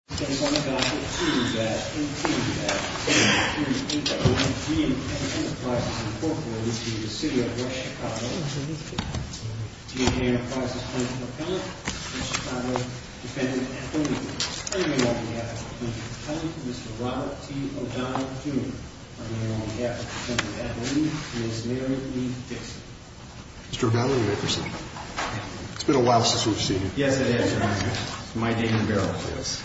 G&K Enterprises Plaintiff Appellant and Chicago Defendant Appellant. On behalf of the Plaintiff Appellant, Mr. Robert T. O'Donnell, Jr. On behalf of the Plaintiff Appellant, Ms. Mary Lee Dixon. Mr. O'Donnell, you may proceed. It's been a while since we've seen you. Yes, it is, Your Honor. My name is Barry Fields.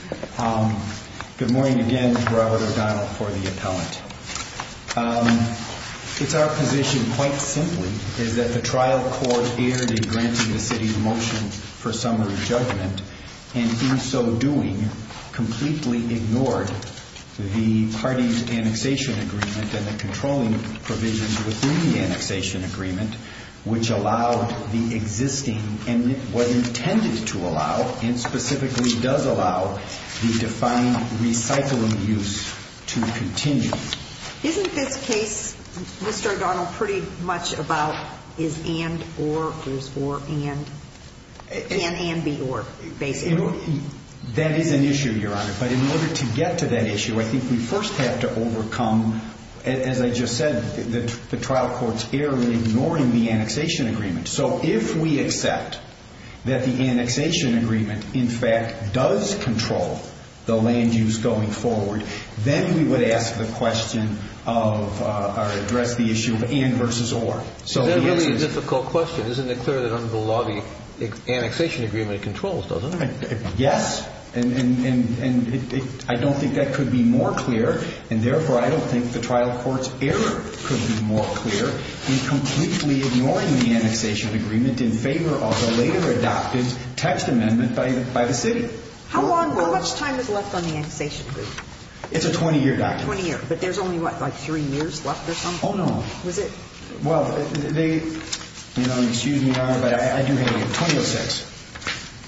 Good morning again. It's Robert O'Donnell for the Appellant. It's our position, quite simply, is that the trial court erred in granting the city's motion for summary judgment, and in so doing, completely ignored the party's annexation agreement and the controlling provisions within the annexation agreement. Which allowed the existing, and was intended to allow, and specifically does allow, the defined recycling use to continue. Isn't this case, Mr. O'Donnell, pretty much about is and, or, is or, and, can and be or, basically? That is an issue, Your Honor. But in order to get to that issue, I think we first have to overcome, as I just said, the trial court's error in ignoring the annexation agreement. So if we accept that the annexation agreement, in fact, does control the land use going forward, then we would ask the question of, or address the issue of and versus or. Is that really a difficult question? Isn't it clear that under the law, the annexation agreement controls, doesn't it? Yes. And I don't think that could be more clear. And therefore, I don't think the trial court's error could be more clear in completely ignoring the annexation agreement in favor of a later adopted text amendment by the city. How long, how much time is left on the annexation agreement? It's a 20-year document. 20 years. But there's only, what, like three years left or something? Oh, no. Was it? Well, they, you know, excuse me, Your Honor, but I do have, 2006.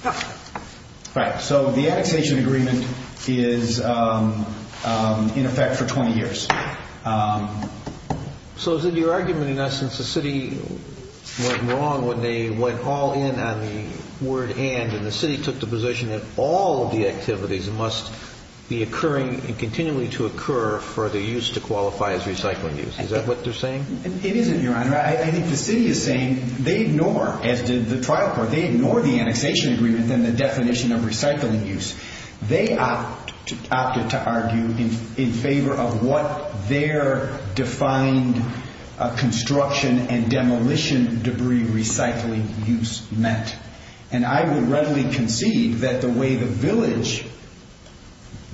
Oh. Right. So the annexation agreement is in effect for 20 years. So is it your argument, in essence, the city went wrong when they went all in on the word and, and the city took the position that all of the activities must be occurring and continuing to occur for the use to qualify as recycling use? Is that what they're saying? It isn't, Your Honor. I think the city is saying they ignore, as did the trial court, they ignore the annexation agreement and the definition of recycling use. They opted to argue in favor of what their defined construction and demolition debris recycling use meant. And I would readily concede that the way the village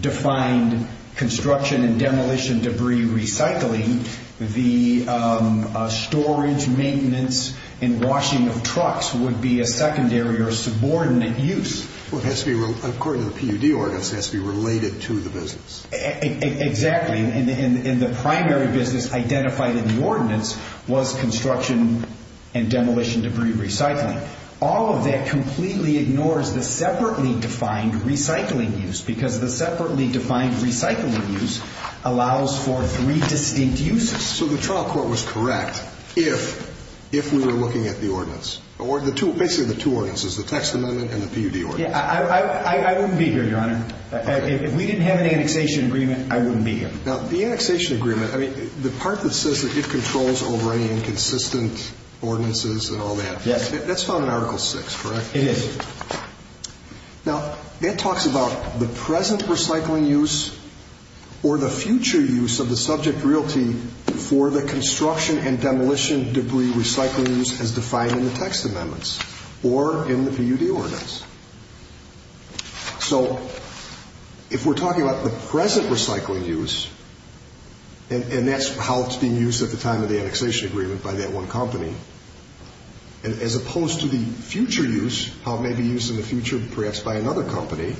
defined construction and demolition debris recycling, the storage, maintenance, and washing of trucks would be a secondary or subordinate use. Well, it has to be, according to the PUD ordinance, it has to be related to the business. Exactly. And the primary business identified in the ordinance was construction and demolition debris recycling. All of that completely ignores the separately defined recycling use because the separately defined recycling use allows for three distinct uses. So the trial court was correct if, if we were looking at the ordinance or the two, basically the two ordinances, the text amendment and the PUD ordinance. I wouldn't be here, Your Honor. If we didn't have an annexation agreement, I wouldn't be here. Now, the annexation agreement, I mean, the part that says that it controls over any inconsistent ordinances and all that. Yes. That's found in Article 6, correct? It is. Now, it talks about the present recycling use or the future use of the subject realty for the construction and demolition debris recycling use as defined in the text amendments or in the PUD ordinance. So if we're talking about the present recycling use and that's how it's being used at the time of the annexation agreement by that one company, as opposed to the future use, how it may be used in the future perhaps by another company,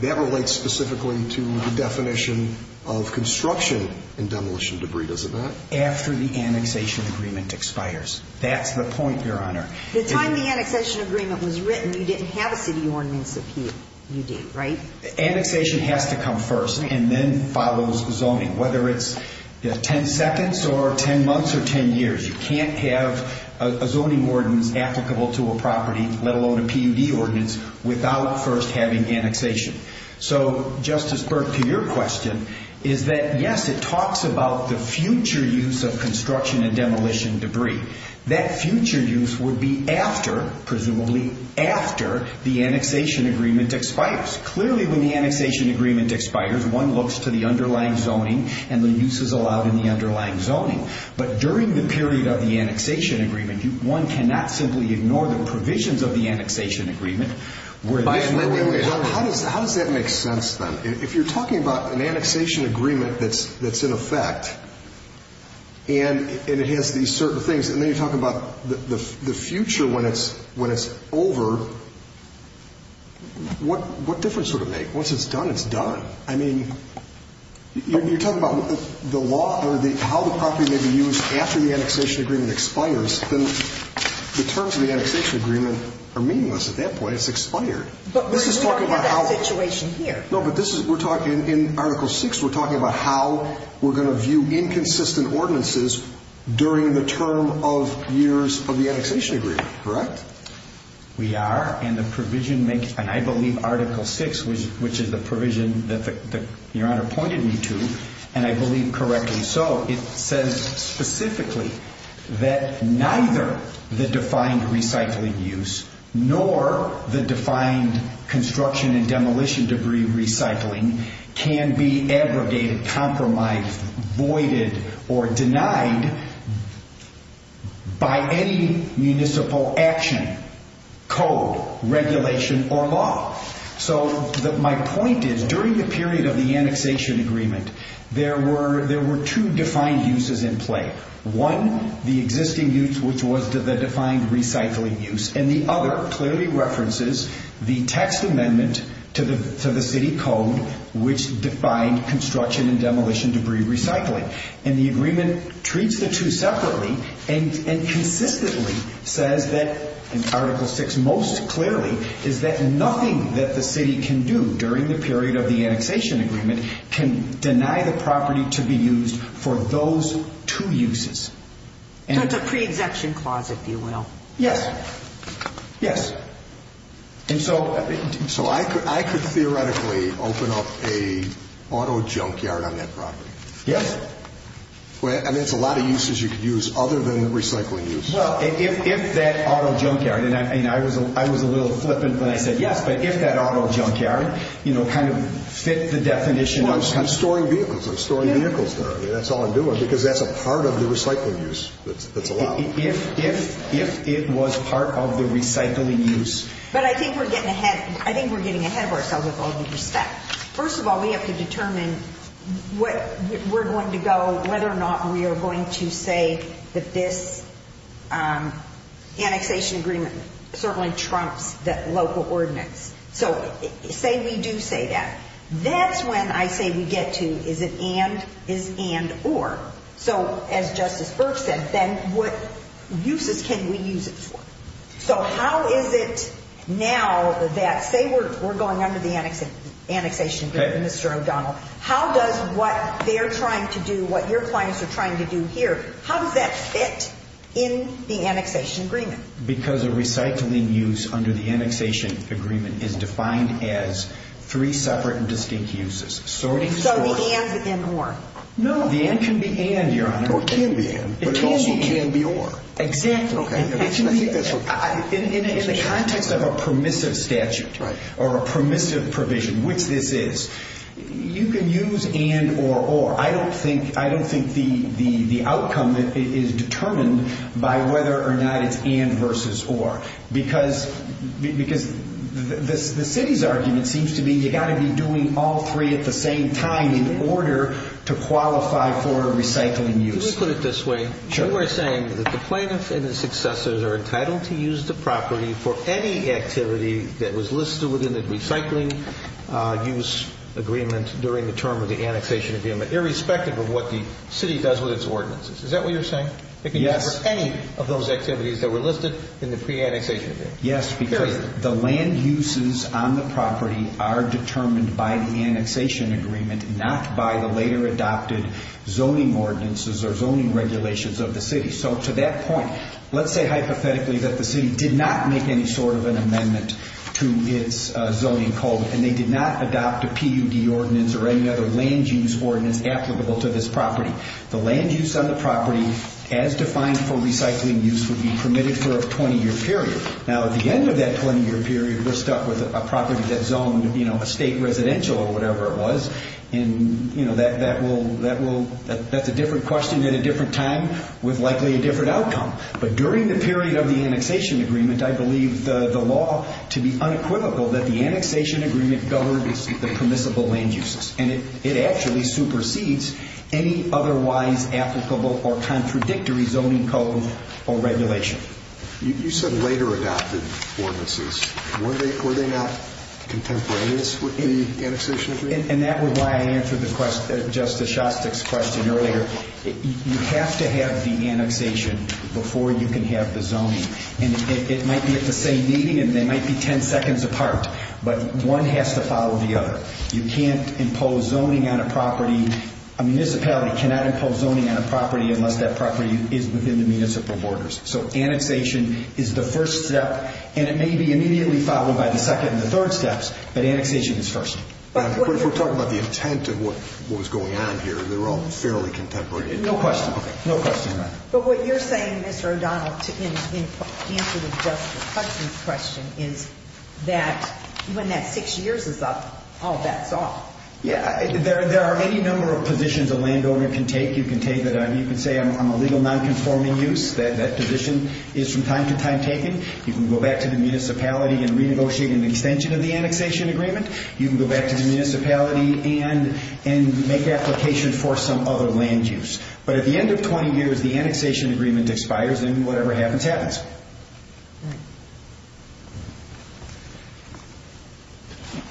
that relates specifically to the definition of construction and demolition debris, does it not? After the annexation agreement expires. That's the point, Your Honor. The time the annexation agreement was written, you didn't have a city ordinance of PUD, right? Annexation has to come first and then follows zoning, whether it's 10 seconds or 10 months or 10 years. You can't have a zoning ordinance applicable to a property, let alone a PUD ordinance, without first having annexation. So, Justice Burke, to your question, is that yes, it talks about the future use of construction and demolition debris. That future use would be after, presumably after, the annexation agreement expires. Clearly, when the annexation agreement expires, one looks to the underlying zoning and the use is allowed in the underlying zoning. But during the period of the annexation agreement, one cannot simply ignore the provisions of the annexation agreement. How does that make sense then? If you're talking about an annexation agreement that's in effect, and it has these certain things, and then you're talking about the future when it's over, what difference would it make? Once it's done, it's done. I mean, you're talking about the law or how the property may be used after the annexation agreement expires. Then the terms of the annexation agreement are meaningless at that point. It's expired. But we're talking about a situation here. No, but this is, we're talking, in Article VI, we're talking about how we're going to view inconsistent ordinances during the term of years of the annexation agreement. Correct? We are, and the provision makes, and I believe Article VI, which is the provision that Your Honor pointed me to, and I believe correctly so, it says specifically that neither the defined recycling use nor the defined construction and demolition debris recycling can be aggregated, compromised, voided, or denied by any municipal action, code, regulation, or law. So my point is, during the period of the annexation agreement, there were two defined uses in play. One, the existing use, which was the defined recycling use, and the other clearly references the text amendment to the city code, which defined construction and demolition debris recycling. And the agreement treats the two separately and consistently says that, in Article VI most clearly, is that nothing that the city can do during the period of the annexation agreement can deny the property to be used for those two uses. So it's a pre-exemption clause, if you will. Yes. Yes. And so I could theoretically open up a auto junkyard on that property. Yes. I mean, it's a lot of uses you could use other than recycling use. Well, if that auto junkyard, and I was a little flippant when I said yes, but if that auto junkyard, you know, kind of fit the definition. Well, I'm storing vehicles. I'm storing vehicles there. That's all I'm doing, because that's a part of the recycling use that's allowed. If it was part of the recycling use. But I think we're getting ahead. I think we're getting ahead of ourselves with all due respect. First of all, we have to determine what we're going to go, whether or not we are going to say that this annexation agreement certainly trumps the local ordinance. So say we do say that. That's when I say we get to is it and, is and or. So as Justice Burke said, then what uses can we use it for? So how is it now that, say we're going under the annexation agreement, Mr. O'Donnell, how does what they're trying to do, what your clients are trying to do here, how does that fit in the annexation agreement? Because a recycling use under the annexation agreement is defined as three separate and distinct uses. So the and and or. No, the and can be and, Your Honor. Or can be and. It can be and. But it also can be or. Exactly. In the context of a permissive statute or a permissive provision, which this is, you can use and or or. I don't think the outcome is determined by whether or not it's and versus or. Because the city's argument seems to be you've got to be doing all three at the same time in order to qualify for a recycling use. Let me put it this way. Sure. You are saying that the plaintiff and his successors are entitled to use the property for any activity that was listed within the recycling use agreement during the term of the annexation agreement, irrespective of what the city does with its ordinances. Is that what you're saying? Yes. It can be for any of those activities that were listed in the pre-annexation agreement. Yes, because the land uses on the property are determined by the annexation agreement, not by the later adopted zoning ordinances or zoning regulations of the city. So to that point, let's say hypothetically that the city did not make any sort of an amendment to its zoning code and they did not adopt a PUD ordinance or any other land use ordinance applicable to this property. The land use on the property, as defined for recycling use, would be permitted for a 20 year period. Now, at the end of that 20 year period, we're stuck with a property that zoned a state residential or whatever it was. That's a different question at a different time with likely a different outcome. But during the period of the annexation agreement, I believe the law to be unequivocal that the annexation agreement governs the permissible land uses. It actually supersedes any otherwise applicable or contradictory zoning code or regulation. You said later adopted ordinances. Were they not contemporaneous with the annexation agreement? And that was why I answered Justice Shostak's question earlier. You have to have the annexation before you can have the zoning. And it might be at the same meeting and they might be 10 seconds apart. But one has to follow the other. You can't impose zoning on a property. A municipality cannot impose zoning on a property unless that property is within the municipal borders. So annexation is the first step. And it may be immediately followed by the second and the third steps. But annexation is first. But if we're talking about the intent of what was going on here, they're all fairly contemporary. No question. No question. But what you're saying, Mr. O'Donnell, in answer to Justice Hudson's question is that when that six years is up, all bets are off. Yeah. There are any number of positions a landowner can take. You can say I'm a legal nonconforming use. That position is from time to time taken. You can go back to the municipality and renegotiate an extension of the annexation agreement. You can go back to the municipality and make application for some other land use. But at the end of 20 years, the annexation agreement expires and whatever happens happens. Right.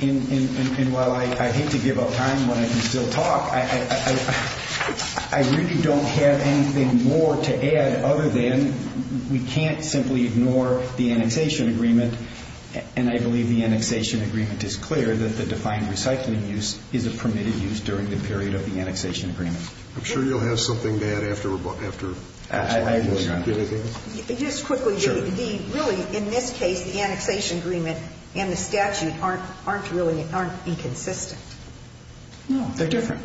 And while I hate to give up time when I can still talk, I really don't have anything more to add other than we can't simply ignore the annexation agreement. And I believe the annexation agreement is clear that the defined recycling use is a permitted use during the period of the annexation agreement. I'm sure you'll have something to add after we're done. Just quickly, really, in this case, the annexation agreement and the statute aren't inconsistent. No, they're different.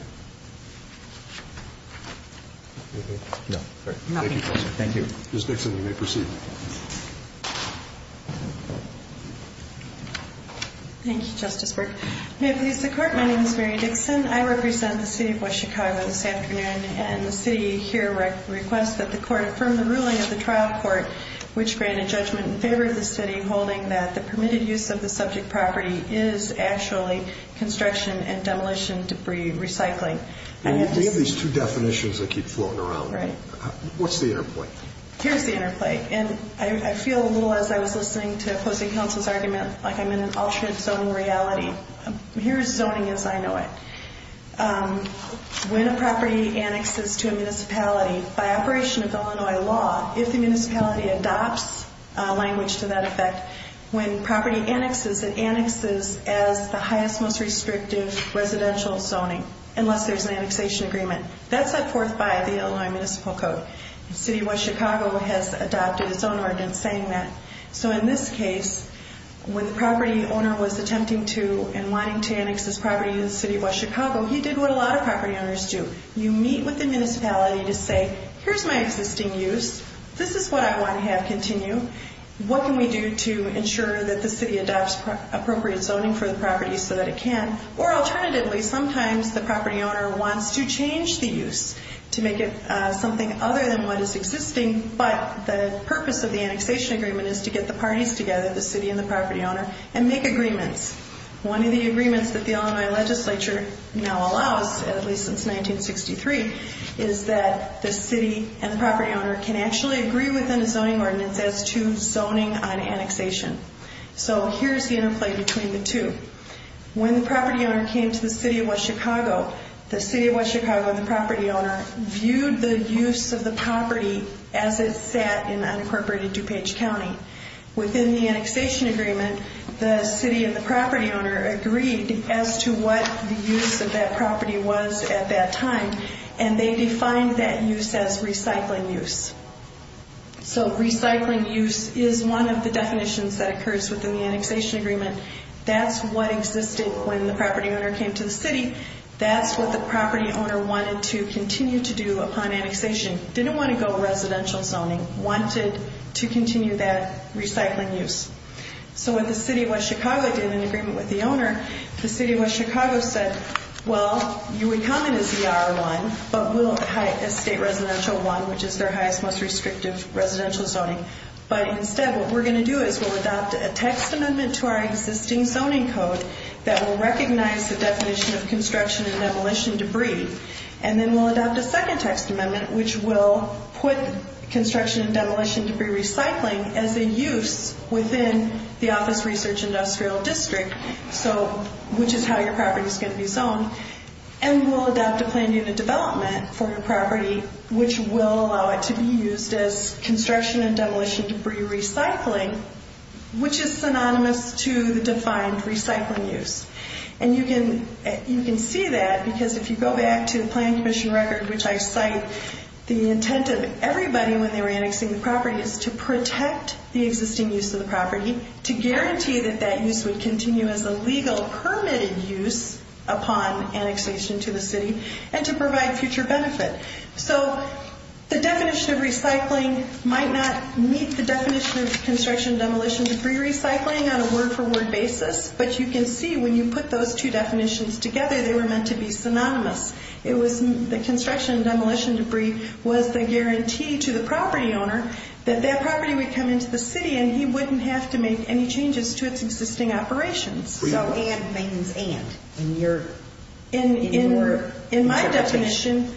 Thank you. Ms. Dixon, you may proceed. Thank you, Justice Burke. May it please the Court, my name is Mary Dixon. I represent the city of West Chicago this afternoon and the city here requests that the Court affirm the ruling of the trial court, which granted judgment in favor of the city holding that the permitted use of the subject property is actually construction and demolition debris recycling. We have these two definitions that keep floating around. Right. What's the interplay? Here's the interplay. I feel a little, as I was listening to opposing counsel's argument, like I'm in an alternate zoning reality. Here's zoning as I know it. When a property annexes to a municipality, by operation of Illinois law, if the municipality adopts language to that effect, when property annexes, it annexes as the highest, most restrictive residential zoning, unless there's an annexation agreement. That's set forth by the Illinois Municipal Code. The city of West Chicago has adopted a zoning ordinance saying that. So in this case, when the property owner was attempting to and wanting to annex this property to the city of West Chicago, he did what a lot of property owners do. You meet with the municipality to say, here's my existing use. This is what I want to have continue. What can we do to ensure that the city adopts appropriate zoning for the property so that it can? Or alternatively, sometimes the property owner wants to change the use to make it something other than what is existing, but the purpose of the annexation agreement is to get the parties together, the city and the property owner, and make agreements. One of the agreements that the Illinois legislature now allows, at least since 1963, is that the city and the property owner can actually agree within a zoning ordinance as to zoning on annexation. So here's the interplay between the two. When the property owner came to the city of West Chicago, the city of West Chicago and the property owner viewed the use of the property as it sat in unincorporated DuPage County. Within the annexation agreement, the city and the property owner agreed as to what the use of that property was at that time, and they defined that use as recycling use. So recycling use is one of the definitions that occurs within the annexation agreement. That's what existed when the property owner came to the city. That's what the property owner wanted to continue to do upon annexation. Didn't want to go residential zoning. Wanted to continue that recycling use. So what the city of West Chicago did in agreement with the owner, the city of West Chicago said, Well, you would come in as ER1, but we'll hide as state residential 1, which is their highest, most restrictive residential zoning. But instead what we're going to do is we'll adopt a text amendment to our existing zoning code that will recognize the definition of construction and demolition debris, and then we'll adopt a second text amendment which will put construction and demolition debris recycling as a use within the office research industrial district, which is how your property is going to be zoned. And we'll adopt a plan unit development for your property, which will allow it to be used as construction and demolition debris recycling, which is synonymous to the defined recycling use. And you can see that because if you go back to the Planning Commission record, which I cite, the intent of everybody when they were annexing the property is to protect the existing use of the property, to guarantee that that use would continue as a legal permitted use upon annexation to the city, and to provide future benefit. So the definition of recycling might not meet the definition of construction and demolition debris recycling on a word-for-word basis, but you can see when you put those two definitions together, they were meant to be synonymous. The construction and demolition debris was the guarantee to the property owner that that property would come into the city and he wouldn't have to make any changes to its existing operations. And things and. In my definition,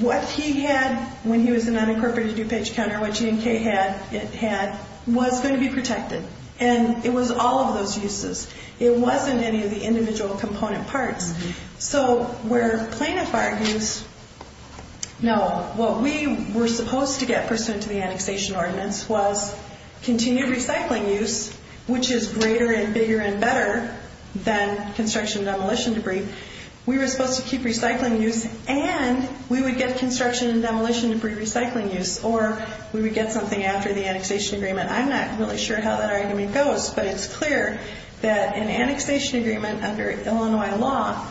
what he had when he was an unincorporated DuPage counter, what GMK had, was going to be protected. And it was all of those uses. It wasn't any of the individual component parts. So where plaintiff argues, no, what we were supposed to get pursuant to the annexation ordinance was continued recycling use, which is greater and bigger and better than construction and demolition debris. We were supposed to keep recycling use and we would get construction and demolition debris recycling use, or we would get something after the annexation agreement. I'm not really sure how that argument goes, but it's clear that an annexation agreement under Illinois law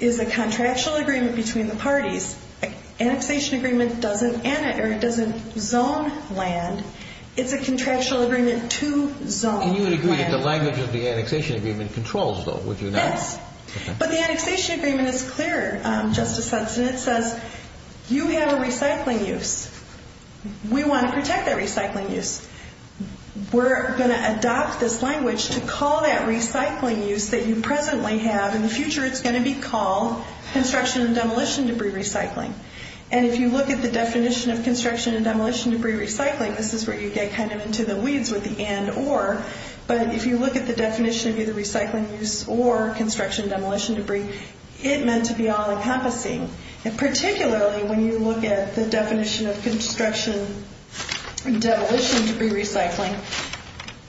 is a contractual agreement between the parties. Annexation agreement doesn't zone land. It's a contractual agreement to zone land. And you would agree that the language of the annexation agreement controls that, would you not? Yes. But the annexation agreement is clearer, Justice Hudson. It says you have a recycling use. We want to protect that recycling use. We're going to adopt this language to call that recycling use that you presently have, or in the future it's going to be called construction and demolition debris recycling. And if you look at the definition of construction and demolition debris recycling, this is where you get kind of into the weeds with the and, or. But if you look at the definition of either recycling use or construction and demolition debris, it meant to be all-encompassing. And particularly when you look at the definition of construction and demolition debris recycling,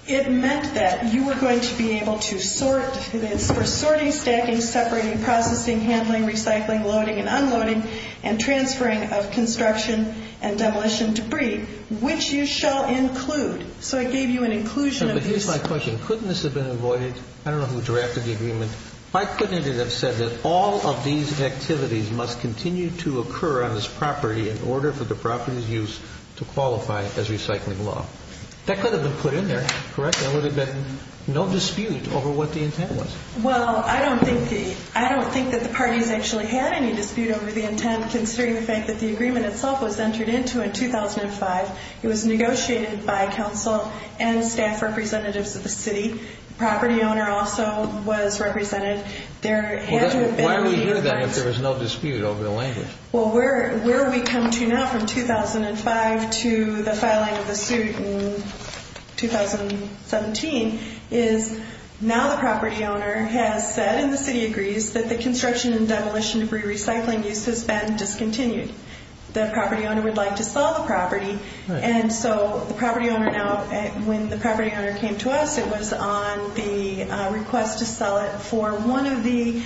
it meant that you were going to be able to sort, and it's for sorting, stacking, separating, processing, handling, recycling, loading, and unloading, and transferring of construction and demolition debris, which you shall include. So it gave you an inclusion of these. But here's my question. Couldn't this have been avoided? I don't know who drafted the agreement. Why couldn't it have said that all of these activities must continue to occur on this property in order for the property's use to qualify as recycling law? That could have been put in there, correct? There would have been no dispute over what the intent was. Well, I don't think that the parties actually had any dispute over the intent, considering the fact that the agreement itself was entered into in 2005. It was negotiated by council and staff representatives of the city. The property owner also was represented. There had to have been an agreement. Why would you do that if there was no dispute over the language? Well, where we come to now from 2005 to the filing of the suit in 2017 is now the property owner has said, and the city agrees, that the construction and demolition debris recycling use has been discontinued. The property owner would like to sell the property. And so the property owner now, when the property owner came to us, it was on the request to sell it for one of the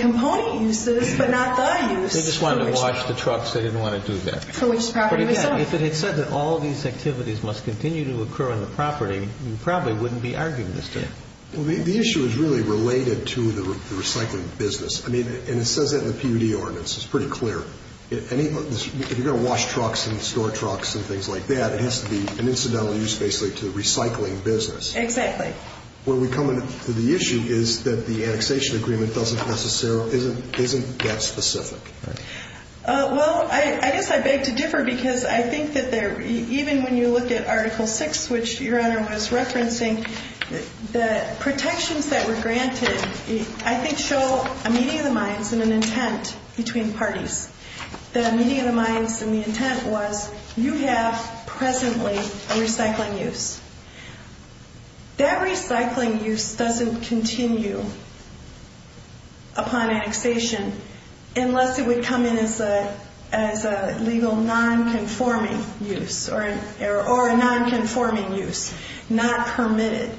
component uses, but not the use. They just wanted to wash the trucks. They didn't want to do that. For which the property was sold. If it had said that all of these activities must continue to occur on the property, you probably wouldn't be arguing this today. The issue is really related to the recycling business. And it says that in the PUD ordinance. It's pretty clear. If you're going to wash trucks and store trucks and things like that, it has to be an incidental use basically to the recycling business. Exactly. Where we come to the issue is that the annexation agreement doesn't necessarily, isn't that specific. Well, I guess I beg to differ because I think that even when you look at Article 6, which Your Honor was referencing, the protections that were granted, I think show a meeting of the minds and an intent between parties. The meeting of the minds and the intent was you have presently a recycling use. That recycling use doesn't continue upon annexation unless it would come in as a legal non-conforming use or a non-conforming use, not permitted.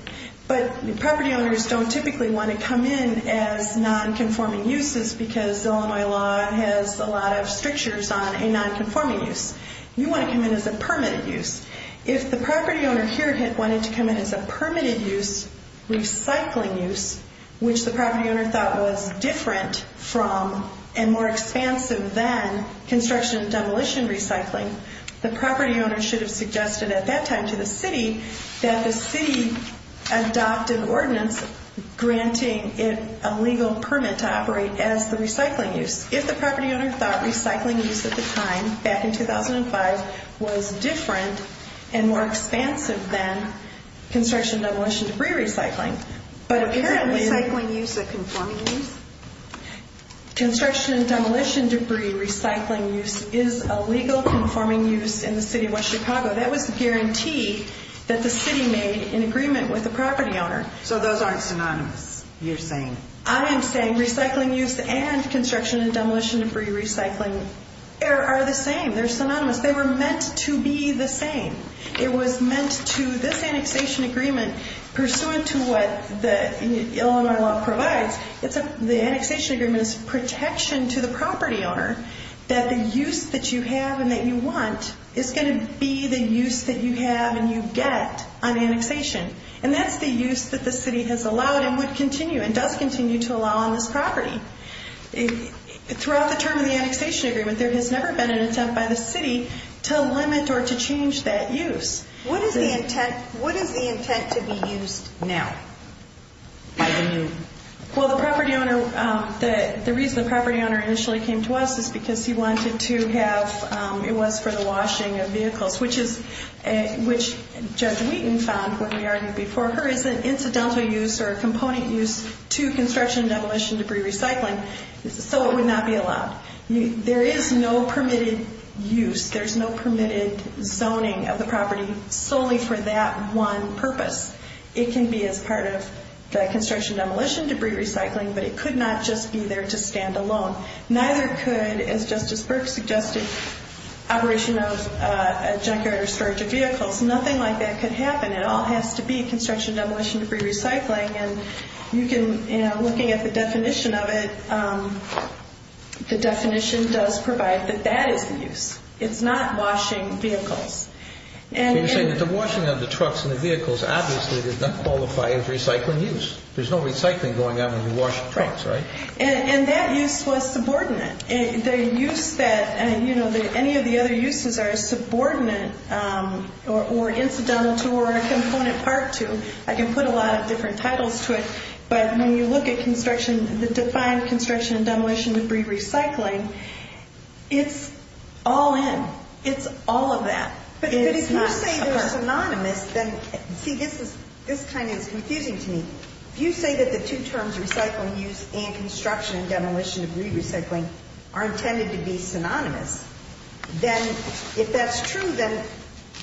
But property owners don't typically want to come in as non-conforming uses because Illinois law has a lot of strictures on a non-conforming use. You want to come in as a permitted use. If the property owner here wanted to come in as a permitted use, recycling use, which the property owner thought was different from and more expansive than construction and demolition recycling, the property owner should have suggested at that time to the city that the city adopt an ordinance granting it a legal permit to operate as the recycling use. If the property owner thought recycling use at the time, back in 2005, was different and more expansive than construction and demolition debris recycling, but apparently... Is a recycling use a conforming use? Construction and demolition debris recycling use is a legal conforming use in the city of West Chicago. That was the guarantee that the city made in agreement with the property owner. So those aren't synonymous, you're saying? I am saying recycling use and construction and demolition debris recycling are the same. They're synonymous. They were meant to be the same. It was meant to... This annexation agreement, pursuant to what the Illinois law provides, the annexation agreement is protection to the property owner that the use that you have and that you want is going to be the use that you have and you get on annexation. And that's the use that the city has allowed and would continue and does continue to allow on this property. Throughout the term of the annexation agreement, there has never been an attempt by the city to limit or to change that use. What is the intent to be used now by the new? Well, the reason the property owner initially came to us is because he wanted to have... It was for the washing of vehicles, which Judge Wheaton found when we argued before her is an incidental use or a component use to construction and demolition debris recycling. So it would not be allowed. There is no permitted use. There's no permitted zoning of the property solely for that one purpose. It can be as part of the construction and demolition debris recycling, but it could not just be there to stand alone. Neither could, as Justice Burke suggested, operation of a junkyard or storage of vehicles. Nothing like that could happen. It all has to be construction and demolition debris recycling. And looking at the definition of it, the definition does provide that that is the use. It's not washing vehicles. You're saying that the washing of the trucks and the vehicles obviously does not qualify as recycling use. There's no recycling going on when you wash trucks, right? And that use was subordinate. The use that any of the other uses are subordinate or incidental to or a component part to, I can put a lot of different titles to it, but when you look at construction, the defined construction and demolition debris recycling, it's all in. It's all of that. But if you say they're synonymous, then see, this kind of is confusing to me. If you say that the two terms, recycling use and construction and demolition debris recycling, are intended to be synonymous, then if that's true, then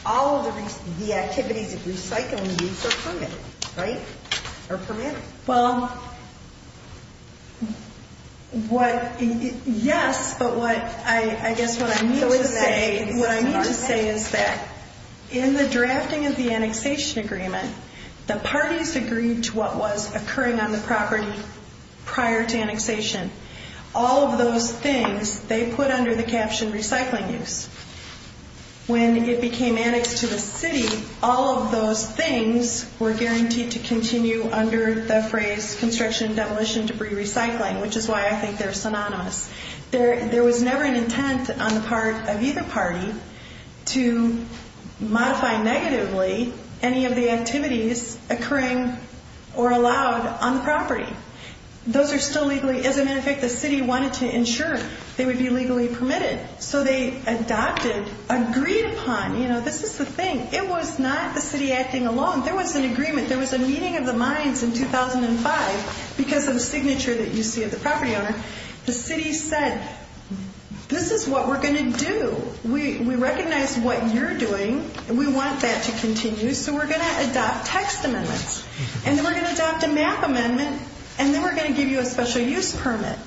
all of the activities of recycling use are permitted, right? Are permitted. Well, what, yes, but what I guess what I mean to say is that in the drafting of the annexation agreement, the parties agreed to what was occurring on the property prior to annexation. All of those things, they put under the caption recycling use. When it became annexed to the city, all of those things were guaranteed to continue under the phrase construction and demolition debris recycling, which is why I think they're synonymous. There was never an intent on the part of either party to modify negatively any of the activities occurring or allowed on the property. Those are still legally, as a matter of fact, the city wanted to ensure they would be legally permitted. So they adopted, agreed upon, you know, this is the thing. It was not the city acting alone. There was an agreement. There was a meeting of the minds in 2005 because of the signature that you see of the property owner. The city said, this is what we're going to do. We recognize what you're doing, and we want that to continue, so we're going to adopt text amendments, and then we're going to adopt a map amendment, and then we're going to give you a special use permit.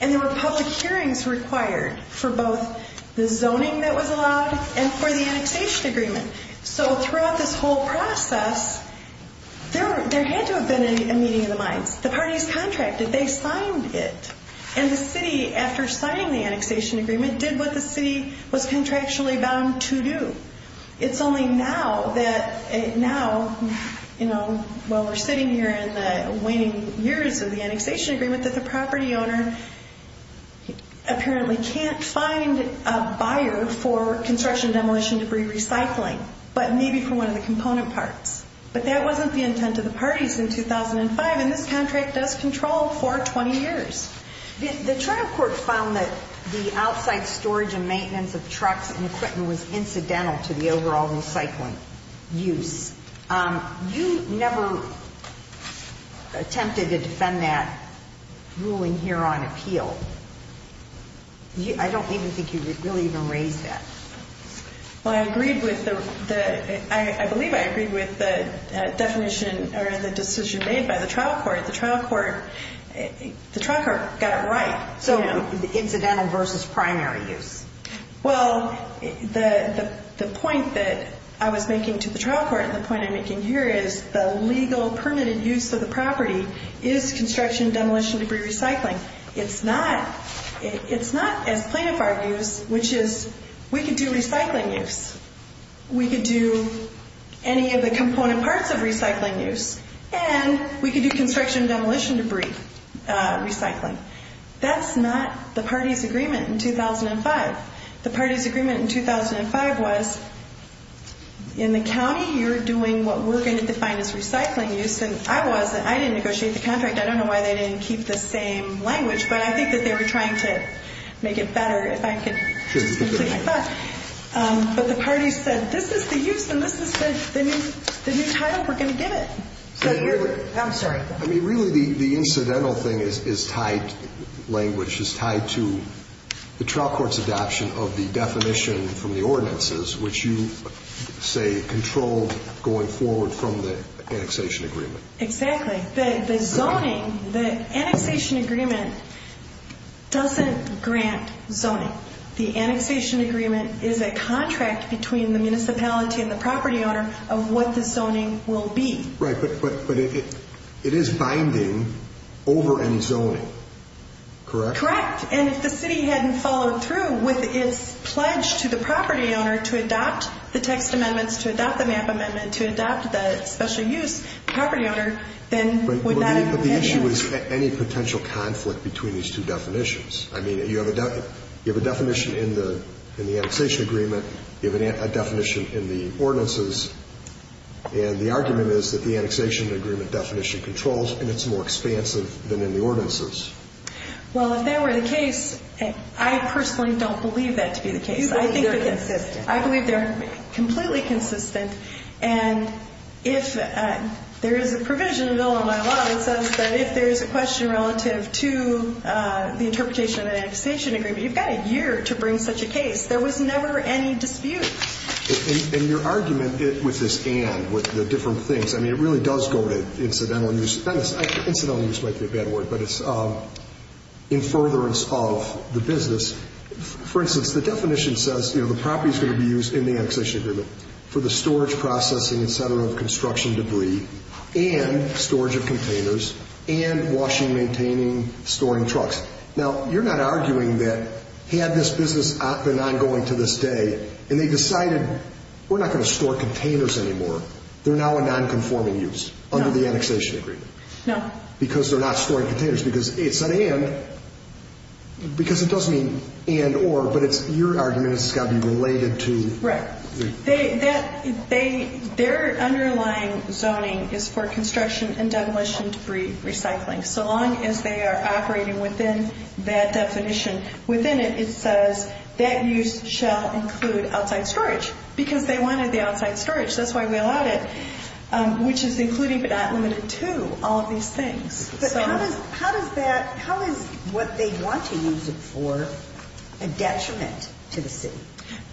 And there were public hearings required for both the zoning that was allowed and for the annexation agreement. there had to have been a meeting of the minds. The parties contracted. They signed it. And the city, after signing the annexation agreement, did what the city was contractually bound to do. It's only now that, now, you know, while we're sitting here in the waning years of the annexation agreement, that the property owner apparently can't find a buyer for construction demolition debris recycling, but maybe for one of the component parts. But that wasn't the intent of the parties in 2005, and this contract does control for 20 years. The trial court found that the outside storage and maintenance of trucks and equipment was incidental to the overall recycling use. You never attempted to defend that ruling here on appeal. I don't even think you really even raised that. Well, I agreed with the, I believe I agreed with the definition or the decision made by the trial court. The trial court got it right. So incidental versus primary use. Well, the point that I was making to the trial court and the point I'm making here is the legal permitted use of the property is construction demolition debris recycling. It's not as plaintiff argues, which is we could do recycling use. We could do any of the component parts of recycling use, and we could do construction demolition debris recycling. That's not the party's agreement in 2005. The party's agreement in 2005 was in the county, you're doing what we're going to define as recycling use, and I was, and I didn't negotiate the contract. I don't know why they didn't keep the same language, but I think that they were trying to make it better, but the party said this is the use, and this is the new title we're going to give it. I'm sorry. I mean, really the incidental thing is tied, language is tied to the trial court's adoption of the definition from the ordinances, which you say controlled going forward from the annexation agreement. Exactly. The zoning, the annexation agreement doesn't grant zoning. The annexation agreement is a contract between the municipality and the property owner of what the zoning will be. Right, but it is binding over any zoning, correct? Correct, and if the city hadn't followed through with its pledge to the property owner to adopt the text amendments, to adopt the MAP amendment, to adopt the special use property owner, then would that have been helpful? But the issue is any potential conflict between these two definitions. I mean, you have a definition in the annexation agreement, you have a definition in the ordinances, and the argument is that the annexation agreement definition controls, and it's more expansive than in the ordinances. Well, if that were the case, I personally don't believe that to be the case. You believe they're consistent. I believe they're completely consistent, and if there is a provision in the Bill of My Law that says that if there is a question relative to the interpretation of the annexation agreement, you've got a year to bring such a case. There was never any dispute. And your argument with this and, with the different things, I mean, it really does go to incidental use. Incidental use might be a bad word, but it's in furtherance of the business. For instance, the definition says, you know, the property is going to be used in the annexation agreement for the storage, processing, et cetera, of construction debris and storage of containers and washing, maintaining, storing trucks. Now, you're not arguing that had this business been ongoing to this day and they decided we're not going to store containers anymore, they're now a nonconforming use under the annexation agreement. No. Because they're not storing containers. Because it's an and, because it doesn't mean and or, but your argument is it's got to be related to. Right. Their underlying zoning is for construction and demolition debris recycling. So long as they are operating within that definition. Within it, it says that use shall include outside storage, because they wanted the outside storage. That's why we allowed it, which is including but not limiting to all of these things. But how does that, how is what they want to use it for a detriment to the city?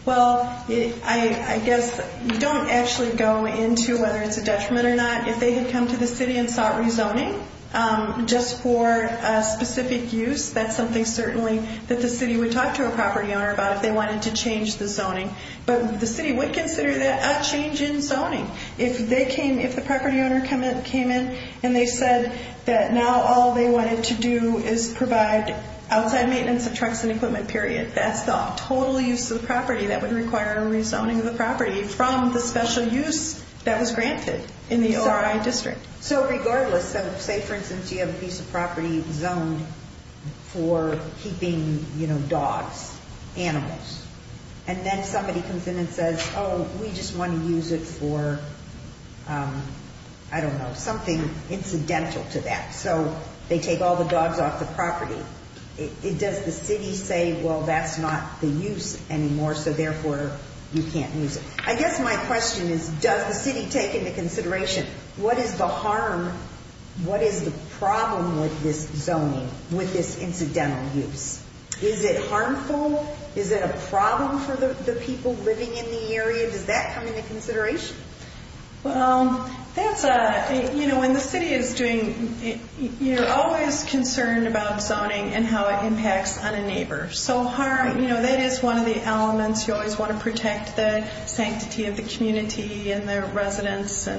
Well, I guess you don't actually go into whether it's a detriment or not. If they had come to the city and sought rezoning just for a specific use, that's something certainly that the city would talk to a property owner about if they wanted to change the zoning. But the city would consider that a change in zoning. If they came, if the property owner came in and they said that now all they wanted to do is provide outside maintenance of trucks and equipment, period, that's the total use of the property that would require a rezoning of the property from the special use that was granted in the ORI district. So regardless of, say, for instance, you have a piece of property zoned for keeping, you know, dogs, animals, and then somebody comes in and says, oh, we just want to use it for, I don't know, something incidental to that. So they take all the dogs off the property. Does the city say, well, that's not the use anymore, so therefore you can't use it? I guess my question is, does the city take into consideration what is the harm, what is the problem with this zoning, with this incidental use? Is it harmful? Is it a problem for the people living in the area? Does that come into consideration? Well, that's a, you know, when the city is doing, you're always concerned about zoning and how it impacts on a neighbor. So harm, you know, that is one of the elements. You always want to protect the sanctity of the community and the residents.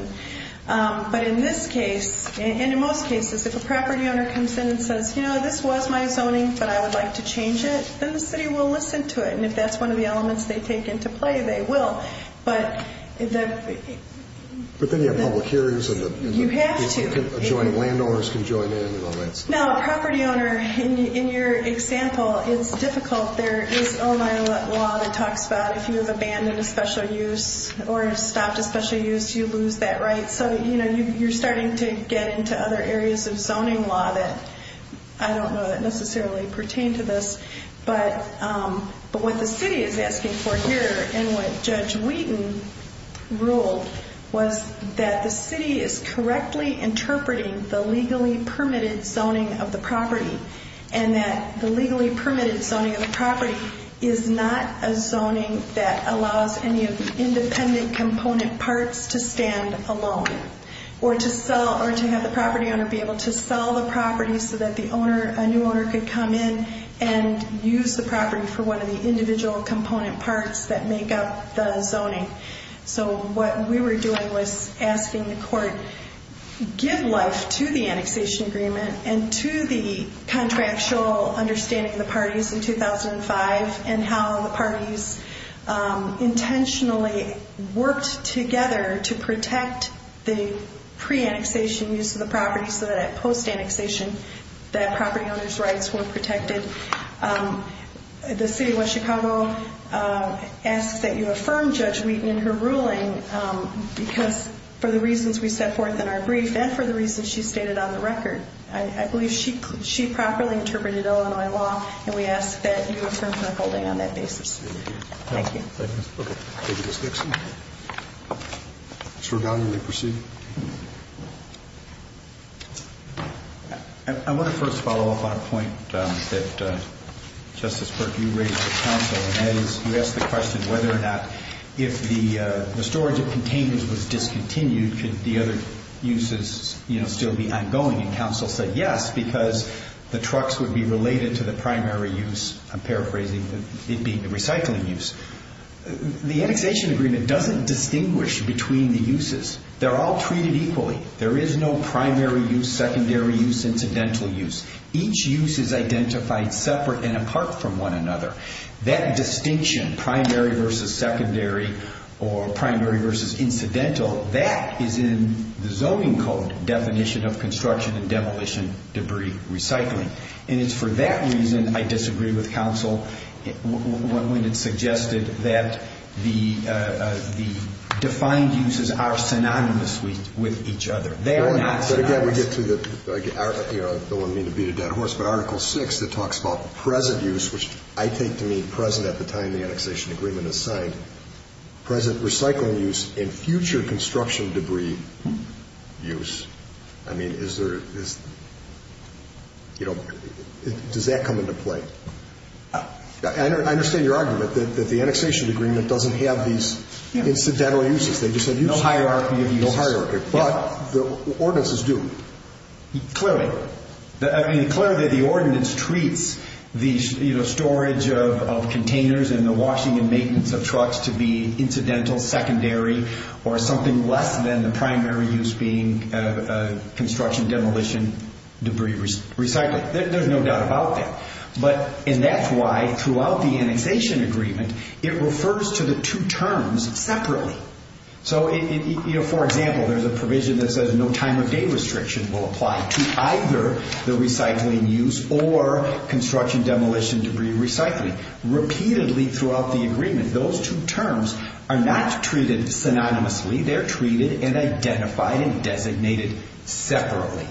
But in this case, and in most cases, if a property owner comes in and says, you know, this was my zoning, but I would like to change it, then the city will listen to it. And if that's one of the elements they take into play, they will. But then you have public hearings. You have to. Adjoining landowners can join in. No, a property owner, in your example, it's difficult. There is Ohio law that talks about if you have abandoned a special use or stopped a special use, you lose that right. So, you know, you're starting to get into other areas of zoning law that I don't know necessarily pertain to this. But what the city is asking for here and what Judge Wheaton ruled was that the city is correctly interpreting the legally permitted zoning of the property and that the legally permitted zoning of the property is not a zoning that allows any of the independent component parts to stand alone or to have the property owner be able to sell the property so that a new owner could come in and use the property for one of the individual component parts that make up the zoning. So what we were doing was asking the court, give life to the annexation agreement and to the contractual understanding of the parties in 2005 and how the parties intentionally worked together to protect the pre-annexation use of the property so that at post-annexation that property owner's rights were protected. The city of West Chicago asks that you affirm Judge Wheaton in her ruling because for the reasons we set forth in our brief and for the reasons she stated on the record. I believe she properly interpreted Illinois law and we ask that you affirm her holding on that basis. Thank you. Thank you. Okay. Thank you, Ms. Dixon. Mr. O'Donnell, you may proceed. I want to first follow up on a point that, Justice Burke, you raised with counsel and that is you asked the question whether or not if the storage of containers was discontinued could the other uses still be ongoing? And counsel said yes because the trucks would be related to the primary use, I'm paraphrasing, it being the recycling use. The annexation agreement doesn't distinguish between the uses. They're all treated equally. There is no primary use, secondary use, incidental use. Each use is identified separate and apart from one another. That distinction, primary versus secondary or primary versus incidental, that is in the zoning code definition of construction and demolition debris recycling. And it's for that reason I disagree with counsel when it suggested that the defined uses are synonymous with each other. They are not synonymous. But, again, we get to the, I don't mean to beat a dead horse, but Article VI that talks about present use, which I take to mean present at the time the annexation agreement is signed, present recycling use, and future construction debris use. I mean, is there, you know, does that come into play? I understand your argument that the annexation agreement doesn't have these incidental uses. They just have uses. No hierarchy of uses. No hierarchy. But the ordinances do. Clearly. I mean, clearly the ordinance treats the storage of containers and the washing and maintenance of trucks to be incidental, secondary, or something less than the primary use being construction demolition debris recycling. There's no doubt about that. And that's why throughout the annexation agreement it refers to the two terms separately. So, for example, there's a provision that says no time of day restriction will apply to either the recycling use or construction demolition debris recycling. Repeatedly throughout the agreement, those two terms are not treated synonymously. They're treated and identified and designated separately.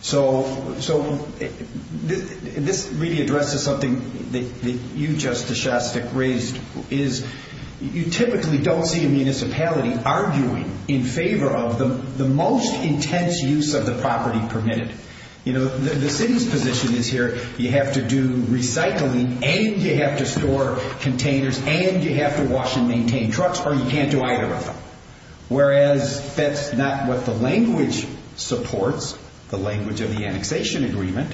So this really addresses something that you, Justice Shostak, raised, is you typically don't see a municipality arguing in favor of the most intense use of the property permitted. The city's position is here you have to do recycling and you have to store containers and you have to wash and maintain trucks or you can't do either of them. Whereas that's not what the language supports, the language of the annexation agreement,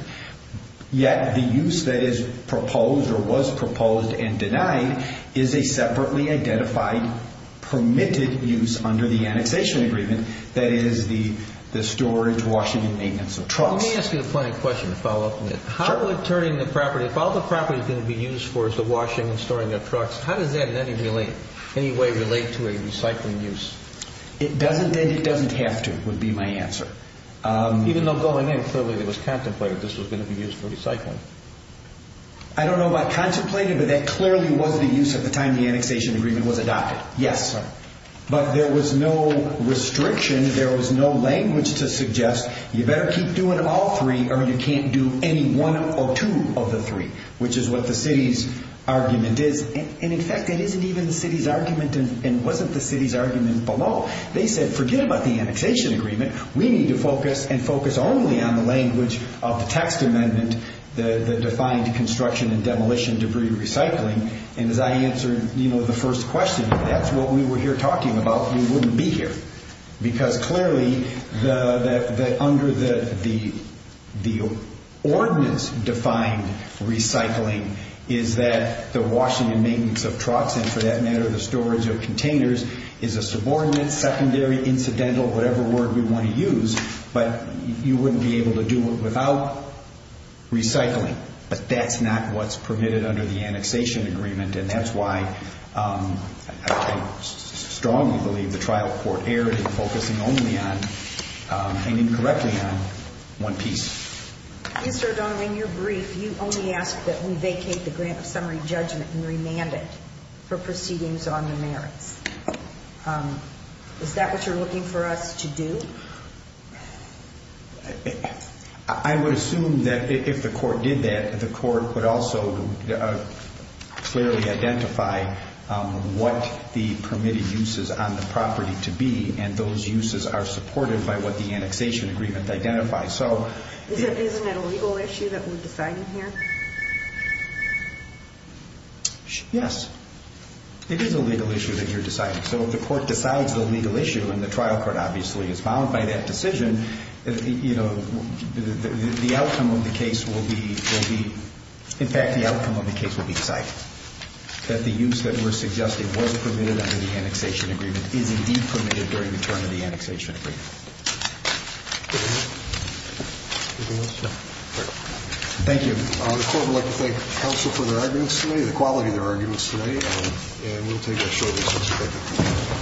yet the use that is proposed or was proposed and denied is a separately identified permitted use under the annexation agreement that is the storage, washing, and maintenance of trucks. Let me ask you a point of question to follow up on that. If all the property is going to be used for is the washing and storing of trucks, how does that in any way relate to a recycling use? It doesn't have to, would be my answer. Even though going in clearly there was contemplated this was going to be used for recycling. I don't know about contemplated, but that clearly was the use at the time the annexation agreement was adopted, yes. But there was no restriction, there was no language to suggest you better keep doing all three or you can't do any one or two of the three, which is what the city's argument is. In fact, it isn't even the city's argument and wasn't the city's argument below. They said forget about the annexation agreement. We need to focus and focus only on the language of the text amendment, the defined construction and demolition debris recycling. As I answered the first question, if that's what we were here talking about, we wouldn't be here. Because clearly under the ordinance defined recycling is that the washing and maintenance of trucks and for that matter the storage of containers is a subordinate, secondary, incidental, whatever word we want to use, but you wouldn't be able to do it without recycling. But that's not what's permitted under the annexation agreement and that's why I strongly believe the trial court erred in focusing only on and incorrectly on one piece. Mr. O'Donnell, in your brief, you only asked that we vacate the grant of summary judgment and remand it for proceedings on the merits. Is that what you're looking for us to do? I would assume that if the court did that, the court would also clearly identify what the permitted uses on the property to be and those uses are supported by what the annexation agreement identifies. Isn't that a legal issue that we're deciding here? Yes, it is a legal issue that you're deciding. So if the court decides the legal issue and the trial court obviously is bound by that decision, the outcome of the case will be decided. That the use that we're suggesting was permitted under the annexation agreement is indeed permitted during the term of the annexation agreement. Thank you. The court would like to thank counsel for their arguments today, the quality of their arguments today, and we'll take a short recess.